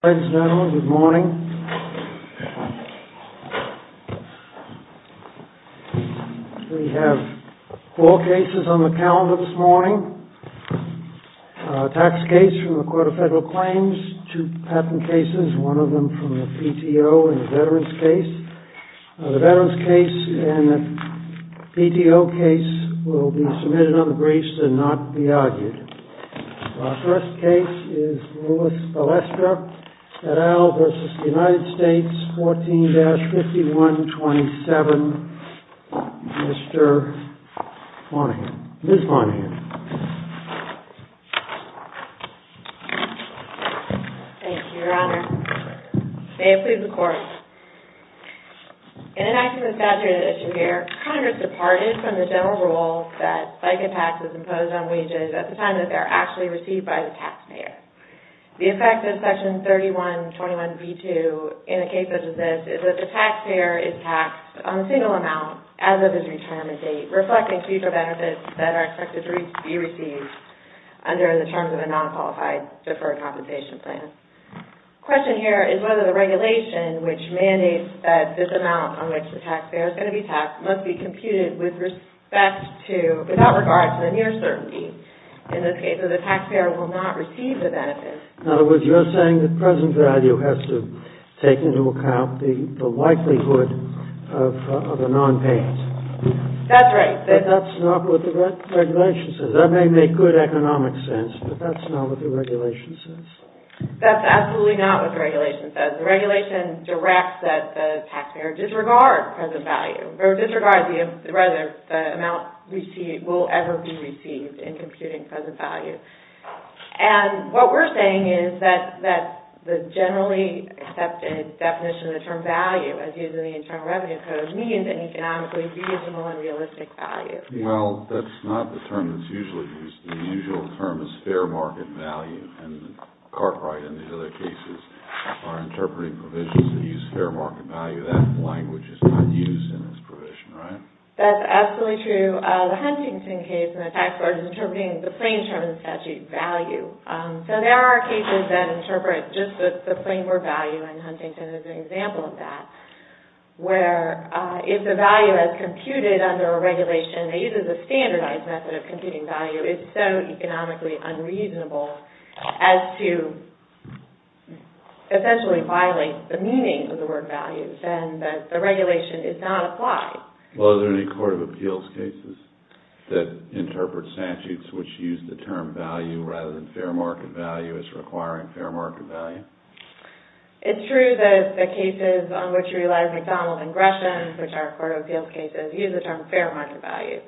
Friends and Analysts, good morning. We have four cases on the calendar this morning. A tax case from the Court of Federal Claims, two patent cases, one of them from the PTO and a veterans case. The veterans case and the PTO case will be submitted on the briefs and not be argued. Our first case is Louis Balestra et al. v. United States 14-5127, Mr. Monahan, Ms. Monahan. Thank you, Your Honor. May it please the Court. In enacting the statute of addition here, Congress departed from the general rule that FICA taxes imposed on wages at the time that they are actually received by the taxpayer. The effect of Section 3121b2 in a case such as this is that the taxpayer is taxed on a single amount as of his retirement date, reflecting future benefits that are expected to be received under the terms of a non-qualified deferred compensation plan. The question here is whether the regulation which mandates that this amount on which the taxpayer is going to be taxed must be computed with respect to, without regard to the near certainty. In this case, the taxpayer will not receive the benefit. In other words, you're saying that present value has to take into account the likelihood of a nonpayment. That's right. But that's not what the regulation says. That may make good economic sense, but that's not what the regulation says. That's absolutely not what the regulation says. The regulation directs that the taxpayer disregard present value, or disregard the amount will ever be received in computing present value. And what we're saying is that the generally accepted definition of the term value as used in the Internal Revenue Code means an economically feasible and realistic value. Well, that's not the term that's usually used. The usual term is fair market value, and Cartwright and these other cases are interpreting provisions that use fair market value. That language is not used in this provision, right? That's absolutely true. The Huntington case, and the taxpayer is interpreting the plain term of the statute value. So there are cases that interpret just the plain word value, and Huntington is an example of that, where if the value is computed under a regulation that uses a standardized method of computing value, it's so economically unreasonable as to essentially violate the meaning of the word value, and that the regulation is not applied. Well, are there any Court of Appeals cases that interpret statutes which use the term value rather than fair market value as requiring fair market value? It's true that the cases on which you realize McDonald and Gresham, which are Court of Appeals cases, use the term fair market value.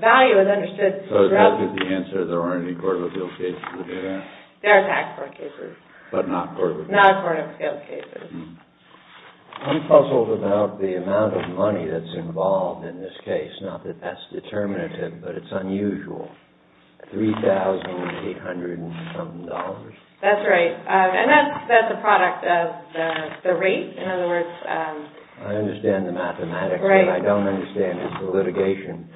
Value is understood to represent... So that's the answer, there aren't any Court of Appeals cases that do that? There are tax court cases. But not Court of Appeals. Not Court of Appeals cases. I'm puzzled about the amount of money that's involved in this case. Not that that's determinative, but it's unusual. $3,800 and something dollars? That's right. And that's a product of the rate, in other words... I understand the mathematics, but I don't understand the litigation.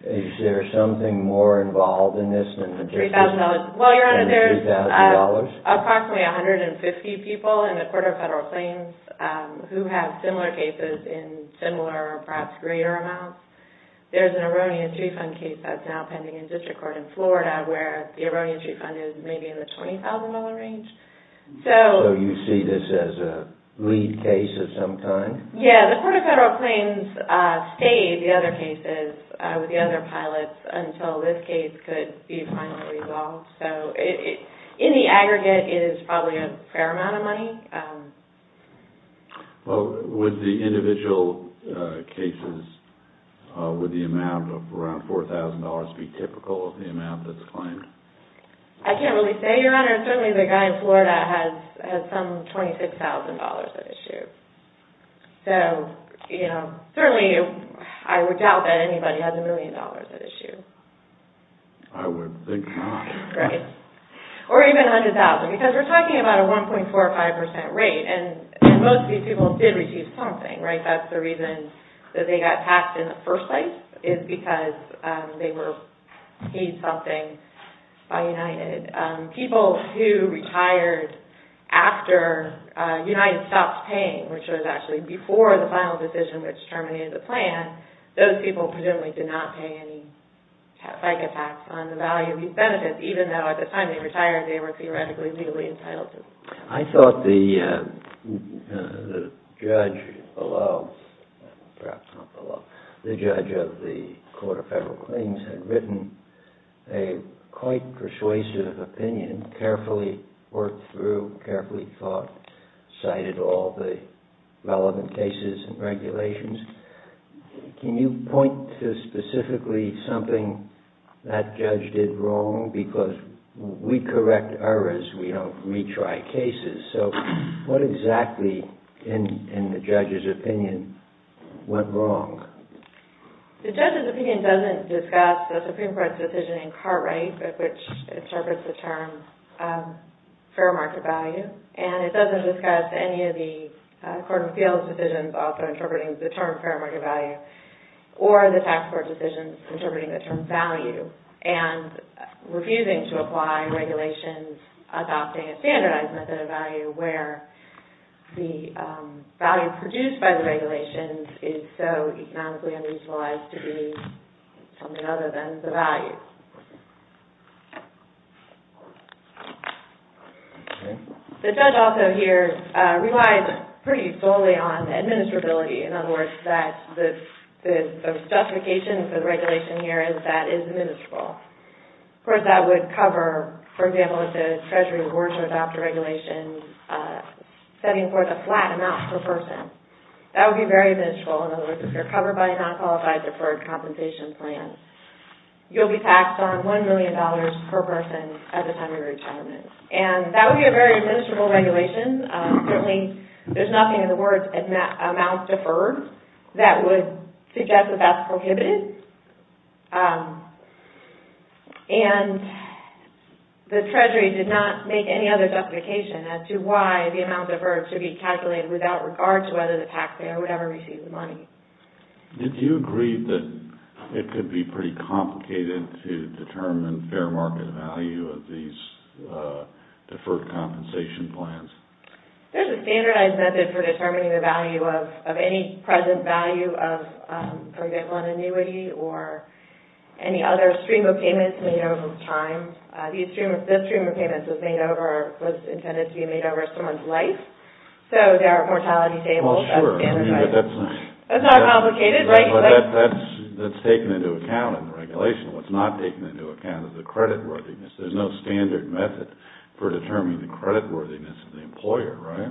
Is there something more involved in this than the $3,000? Well, Your Honor, there's approximately 150 people in the Court of Federal Claims who have similar cases in similar or perhaps greater amounts. There's an erroneous refund case that's now pending in district court in Florida where the erroneous refund is maybe in the $20,000 range. So you see this as a lead case of some kind? Yeah, the Court of Federal Claims stayed the other cases with the other pilots until this case could be finally resolved. So in the aggregate, it is probably a fair amount of money. Well, with the individual cases, would the amount of around $4,000 be typical of the amount that's claimed? I can't really say, Your Honor. Certainly the guy in Florida has some $26,000 at issue. So, you know, certainly I would doubt that anybody has a million dollars at issue. I would think not. Right. Or even $100,000, because we're talking about a 1.45% rate, and most of these people did receive something, right? That's the reason that they got taxed in the first place is because they were paid something by United. People who retired after United stopped paying which was actually before the final decision which terminated the plan, those people presumably did not pay any FICA tax on the value of these benefits, even though at the time they retired they were theoretically legally entitled to. I thought the judge below, perhaps not below, the judge of the Court of Federal Claims had written a quite persuasive opinion, carefully worked through, carefully thought, cited all the relevant cases and regulations. Can you point to specifically something that judge did wrong? Because we correct errors, we don't retry cases. So what exactly, in the judge's opinion, went wrong? The judge's opinion doesn't discuss the Supreme Court's decision in Cartwright, which interprets the term fair market value, and it doesn't discuss any of the Court of Appeals decisions also interpreting the term fair market value, or the tax court decisions interpreting the term value, and refusing to apply regulations adopting a standardized method of value where the value produced by the regulations is so economically unutilized to be something other than the value. The judge also here relies pretty solely on administrability. In other words, the justification for the regulation here is that it is administrable. Of course, that would cover, for example, if the Treasury were to adopt a regulation setting forth a flat amount per person. That would be very administrable. In other words, if you're covered by a non-qualified deferred compensation plan, you'll be taxed on $1 million per person at the time of your retirement. And that would be a very administrable regulation. Certainly, there's nothing in the words amount deferred that would suggest that that's prohibited. And the Treasury did not make any other justification as to why the amount deferred should be calculated without regard to whether the taxpayer would ever receive the money. Did you agree that it could be pretty complicated to determine fair market value of these deferred compensation plans? There's a standardized method for determining the value of any present value of, for example, an annuity or any other stream of payments made over time. This stream of payments was intended to be made over someone's life. So, there are mortality tables. Well, sure. That's not complicated, right? That's taken into account in the regulation. What's not taken into account is the credit worthiness. There's no standard method for determining the credit worthiness of the employer, right?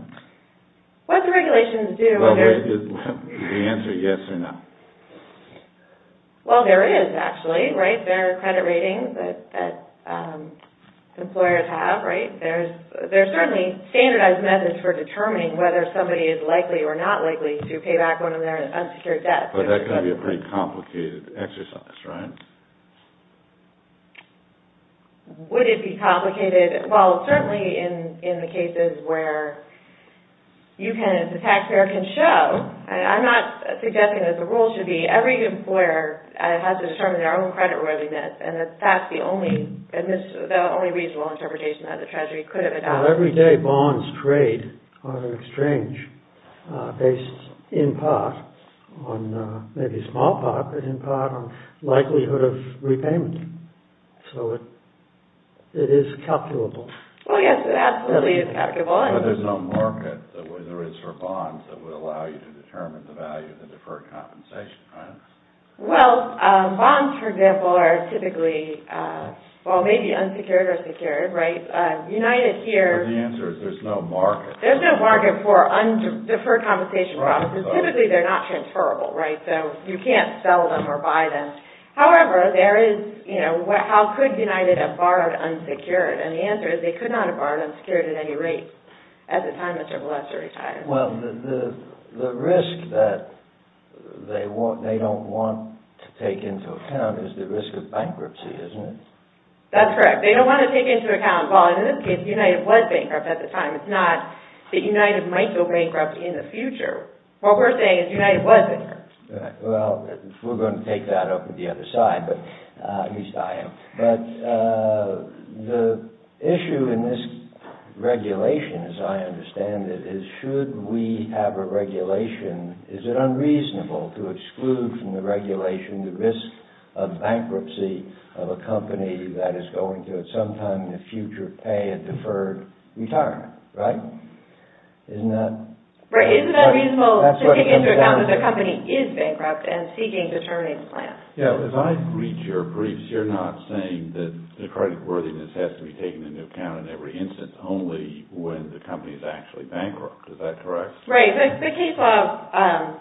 What do regulations do? The answer is yes or no. Well, there is actually, right? There are credit ratings that employers have, right? There's certainly standardized methods for determining whether somebody is likely or not likely to pay back one of their unsecured debts. But that can be a pretty complicated exercise, right? Would it be complicated? Well, certainly in the cases where you can, the taxpayer can show, and I'm not suggesting that the rule should be every employer has to determine their own credit worthiness, and that's the only reasonable interpretation that the Treasury could have adopted. Well, every day bonds trade on an exchange based in part on, maybe small part, but in part on likelihood of repayment. So, it is calculable. Well, yes, it absolutely is calculable. But there's no market that there is for bonds that would allow you to determine the value of the deferred compensation, right? Well, bonds, for example, are typically, well, maybe unsecured or secured, right? United here... But the answer is there's no market. There's no market for deferred compensation promises. Right. Typically, they're not transferable, right? So, you can't sell them or buy them. However, there is, you know, how could United have borrowed unsecured? And the answer is they could not have borrowed unsecured at any rate at the time Mr. Molester retired. Well, the risk that they don't want to take into account is the risk of bankruptcy, isn't it? That's correct. They don't want to take into account, well, in this case, United was bankrupt at the time. It's not that United might go bankrupt in the future. What we're saying is United was bankrupt. Well, we're going to take that up with the other side, but at least I am. But the issue in this regulation, as I understand it, is should we have a regulation, is it unreasonable to exclude from the regulation the risk of bankruptcy of a company that is going to at some time in the future pay a deferred retirement, right? Isn't that... Right. Isn't it unreasonable to take into account that the company is bankrupt and seeking to terminate the plan? Yeah, because I've read your briefs. You're not saying that the creditworthiness has to be taken into account in every instance, only when the company is actually bankrupt. Is that correct? Right. The case law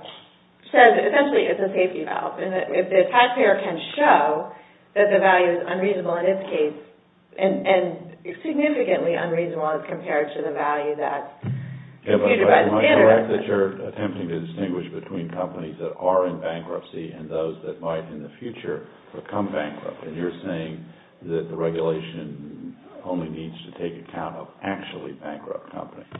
says essentially it's a safety valve. And if the taxpayer can show that the value is unreasonable in this case, and significantly unreasonable as compared to the value that... Am I correct that you're attempting to distinguish between companies that are in bankruptcy and those that might in the future become bankrupt? And you're saying that the regulation only needs to take account of actually bankrupt companies.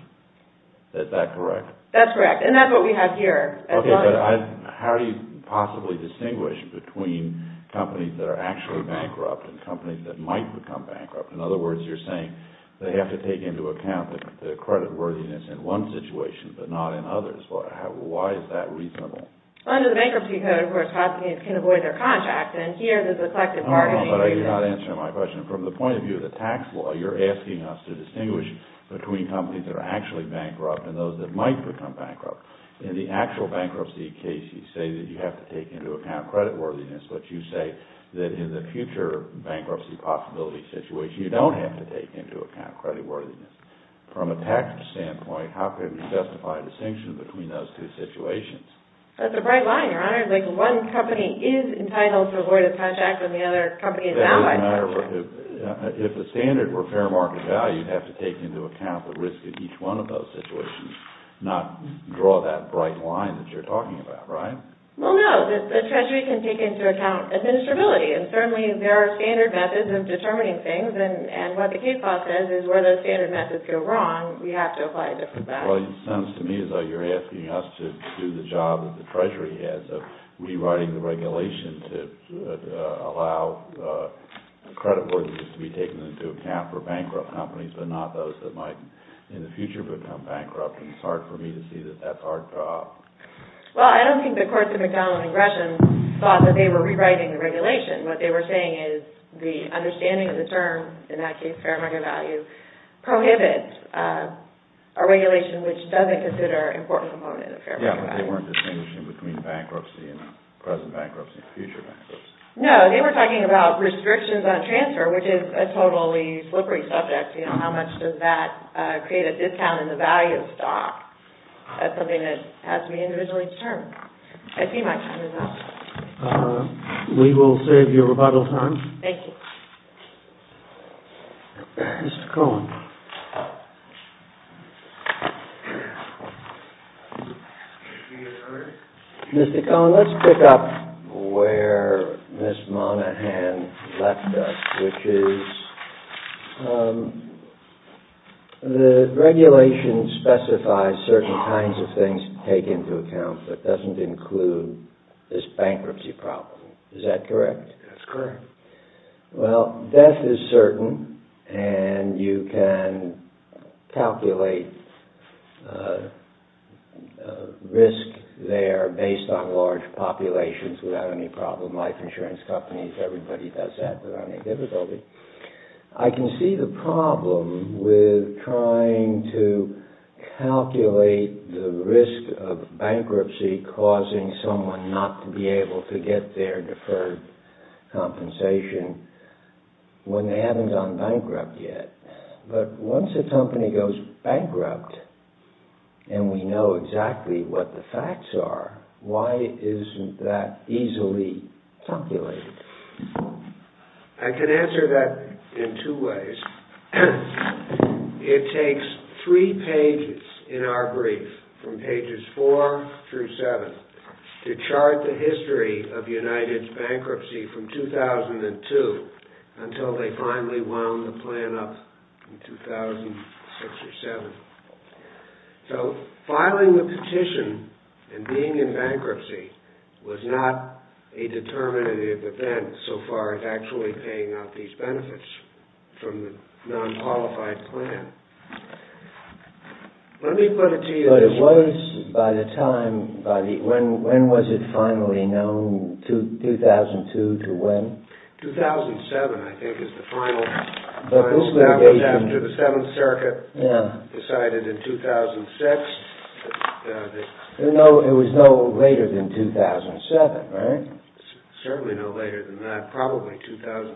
Is that correct? That's correct. And that's what we have here. Okay, but how do you possibly distinguish between companies that are actually bankrupt and companies that might become bankrupt? In other words, you're saying they have to take into account the creditworthiness in one situation, but not in others. Why is that reasonable? Under the Bankruptcy Code, of course, companies can avoid their contracts. And here, there's a collective bargaining... No, no, but you're not answering my question. From the point of view of the tax law, you're asking us to distinguish between companies that are actually bankrupt and those that might become bankrupt. In the actual bankruptcy case, you say that you have to take into account creditworthiness, but you say that in the future bankruptcy possibility situation, you don't have to take into account creditworthiness. From a tax standpoint, how can we specify a distinction between those two situations? That's a bright line, Your Honor. It's like one company is entitled to avoid a contract when the other company is not. If the standard were fair market value, you'd have to take into account the risk of each one of those situations, not draw that bright line that you're talking about, right? Well, no. The Treasury can take into account administrability. And certainly, there are standard methods of determining things. And what the case law says is where those standard methods go wrong, we have to apply a different value. Well, it sounds to me as though you're asking us to do the job that the Treasury has of rewriting the regulation to allow creditworthiness to be taken into account for bankrupt companies, but not those that might in the future become bankrupt. And it's hard for me to see that that's our job. Well, I don't think the courts of McDonald and Gresham thought that they were rewriting the regulation. What they were saying is the understanding of the term, in that case fair market value, prohibits a regulation which doesn't consider an important component of fair market value. Yeah, but they weren't distinguishing between bankruptcy and present bankruptcy and future bankruptcy. No, they were talking about restrictions on transfer, which is a totally slippery subject. How much does that create a discount in the value of stock? That's something that has to be individually determined. I see my time is up. We will save you rebuttal time. Thank you. Mr. Cohen. Mr. Cohen, let's pick up where Ms. Monaghan left us, which is the regulation specifies certain kinds of things to take into account, but doesn't include this bankruptcy problem. Is that correct? That's correct. Well, death is certain, and you can calculate risk there based on large populations without any problem. Life insurance companies, everybody does that without any difficulty. I can see the problem with trying to calculate the risk of bankruptcy causing someone not to be able to get their deferred compensation when they haven't gone bankrupt yet. But once a company goes bankrupt and we know exactly what the facts are, why isn't that easily calculated? I can answer that in two ways. It takes three pages in our brief, from pages four through seven, to chart the history of United's bankruptcy from 2002 until they finally wound the plan up in 2006 or 2007. So filing the petition and being in bankruptcy was not a determinative event so far as actually paying out these benefits from the non-qualified plan. Let me put it to you this way. But it was by the time, when was it finally known, 2002 to when? 2007, I think, is the final, that was after the Seventh Circuit decided in 2006. There was no later than 2007, right? Certainly no later than that, probably 2006.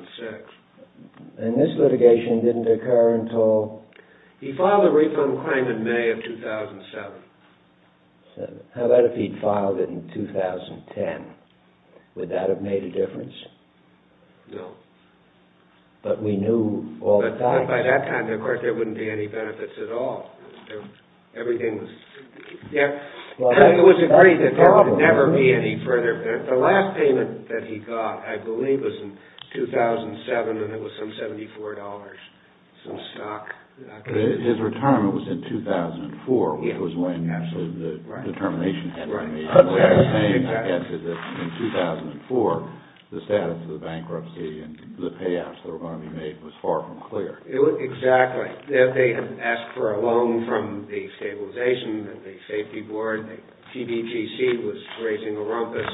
And this litigation didn't occur until... He filed a refund claim in May of 2007. How about if he'd filed it in 2010? Would that have made a difference? No. But we knew all the facts. But by that time, of course, there wouldn't be any benefits at all. Everything was... It was agreed that there would never be any further benefits. The last payment that he got, I believe, was in 2007, and it was some $74, some stock. His retirement was in 2004, which was when, actually, the termination happened. In 2004, the status of the bankruptcy and the payouts that were going to be made was far from clear. Exactly. They had asked for a loan from the Stabilization and the Safety Board. The CBTC was raising a rumpus.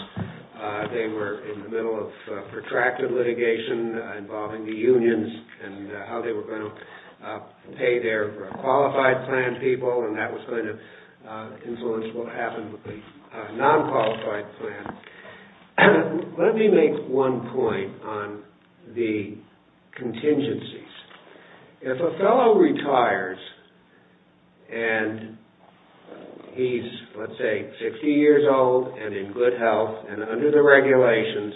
They were in the middle of protracted litigation involving the unions and how they were going to pay their qualified plan people, and that was going to influence what happened with the non-qualified plan. Let me make one point on the contingencies. If a fellow retires, and he's, let's say, 60 years old and in good health and under the regulations,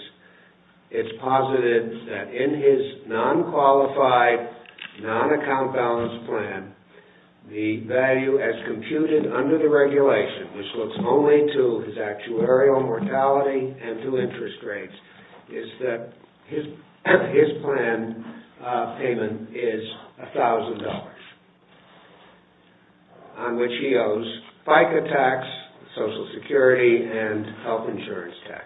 it's posited that in his non-qualified, non-account balance plan, the value as computed under the regulation, which looks only to his actuarial mortality and to interest rates, is that his plan payment is $1,000, on which he owes FICA tax, Social Security, and health insurance tax.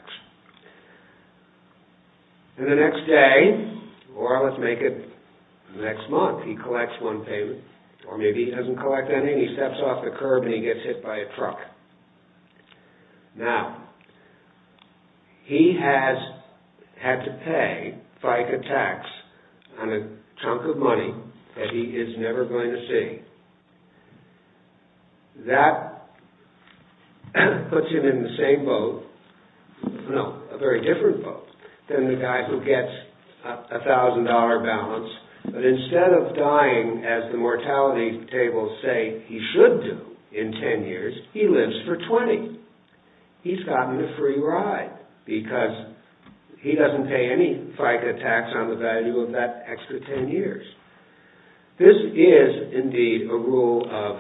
And the next day, or let's make it the next month, he collects one payment, or maybe he doesn't collect anything, he steps off the curb and he gets hit by a truck. Now, he has had to pay FICA tax on a chunk of money that he is never going to see. That puts him in the same boat, no, a very different boat, than the guy who gets a $1,000 balance, but instead of dying as the mortality tables say he should do in 10 years, he lives for 20. He's gotten a free ride, because he doesn't pay any FICA tax on the value of that extra 10 years. This is, indeed, a rule of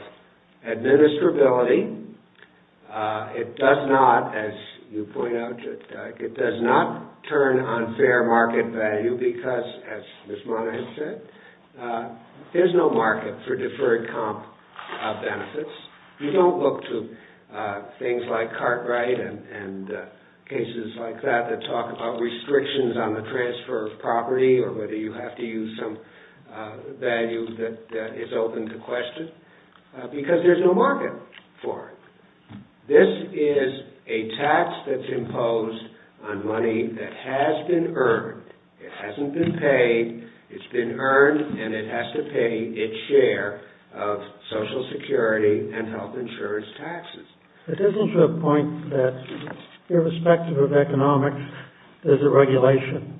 administrability. It does not, as you point out, it does not turn on fair market value, because, as Ms. Monahan said, there's no market for deferred comp benefits. You don't look to things like Cartwright and cases like that that talk about restrictions on the transfer of property, or whether you have to use some value that is open to question, because there's no market for it. This is a tax that's imposed on money that has been earned, it hasn't been paid, it's been earned, and it has to pay its share of Social Security and health insurance taxes. It isn't to the point that, irrespective of economics, there's a regulation,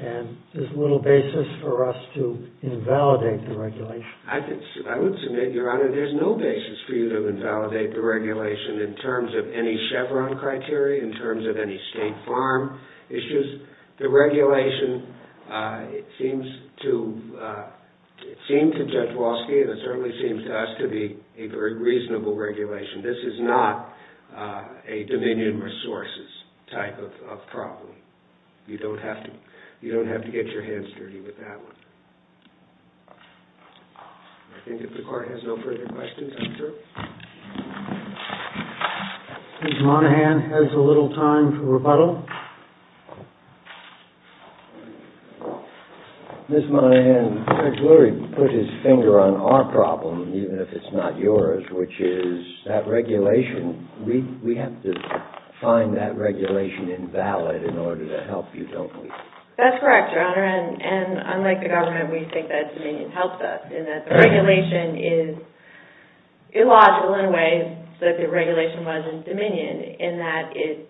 and there's little basis for us to invalidate the regulation. I would submit, Your Honor, there's no basis for you to invalidate the regulation in terms of any Chevron criteria, in terms of any state farm issues. The regulation, it seems to Judge Walsky, and it certainly seems to us to be a very reasonable regulation. This is not a Dominion Resources type of problem. You don't have to get your hands dirty with that one. I think if the Court has no further questions, I'm through. Ms. Monahan has a little time for rebuttal. Ms. Monahan, Judge Lurie put his finger on our problem, even if it's not yours, which is that regulation. We have to find that regulation invalid in order to help you, don't we? That's correct, Your Honor, and unlike the government, we think that Dominion helps us, in that the regulation is illogical in ways that the regulation was in Dominion, in that it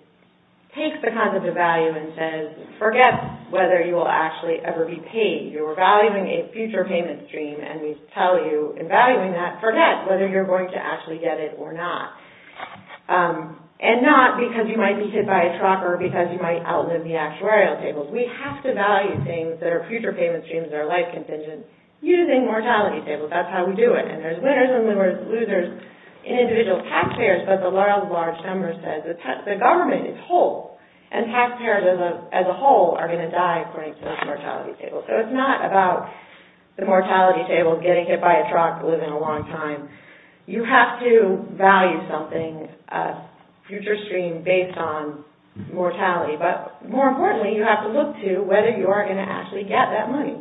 takes the concept of value and says, forget whether you will actually ever be paid. You're valuing a future payment stream, and we tell you in valuing that, forget whether you're going to actually get it or not. And not because you might be hit by a truck or because you might outlive the actuarial tables. We have to value things that are future payment streams that are life contingent using mortality tables. That's how we do it. And there's winners and losers in individual taxpayers, but the large number says the government is whole, and taxpayers as a whole are going to die according to those mortality tables. So it's not about the mortality table, getting hit by a truck, living a long time. You have to value something, a future stream based on mortality. But more importantly, you have to look to whether you are going to actually get that money.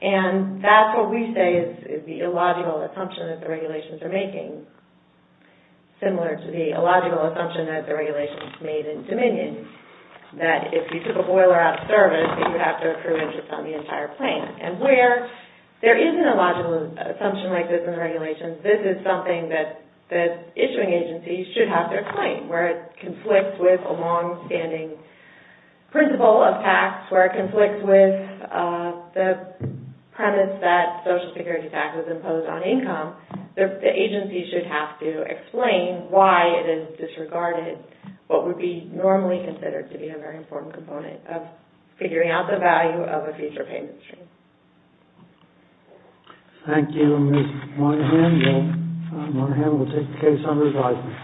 And that's what we say is the illogical assumption that the regulations are making. Similar to the illogical assumption that the regulations made in Dominion, that if you took a boiler out service, you have to approve interest on the entire claim. And where there is an illogical assumption like this in the regulations, this is something that the issuing agencies should have their claim. Where it conflicts with a long-standing principle of tax, where it conflicts with the premise that Social Security taxes impose on income, the agency should have to explain why it is disregarded what would be normally considered to be a very important component of figuring out the value of a future payment stream. Thank you, Ms. Monaghan. Ms. Monaghan will take the case on revisement.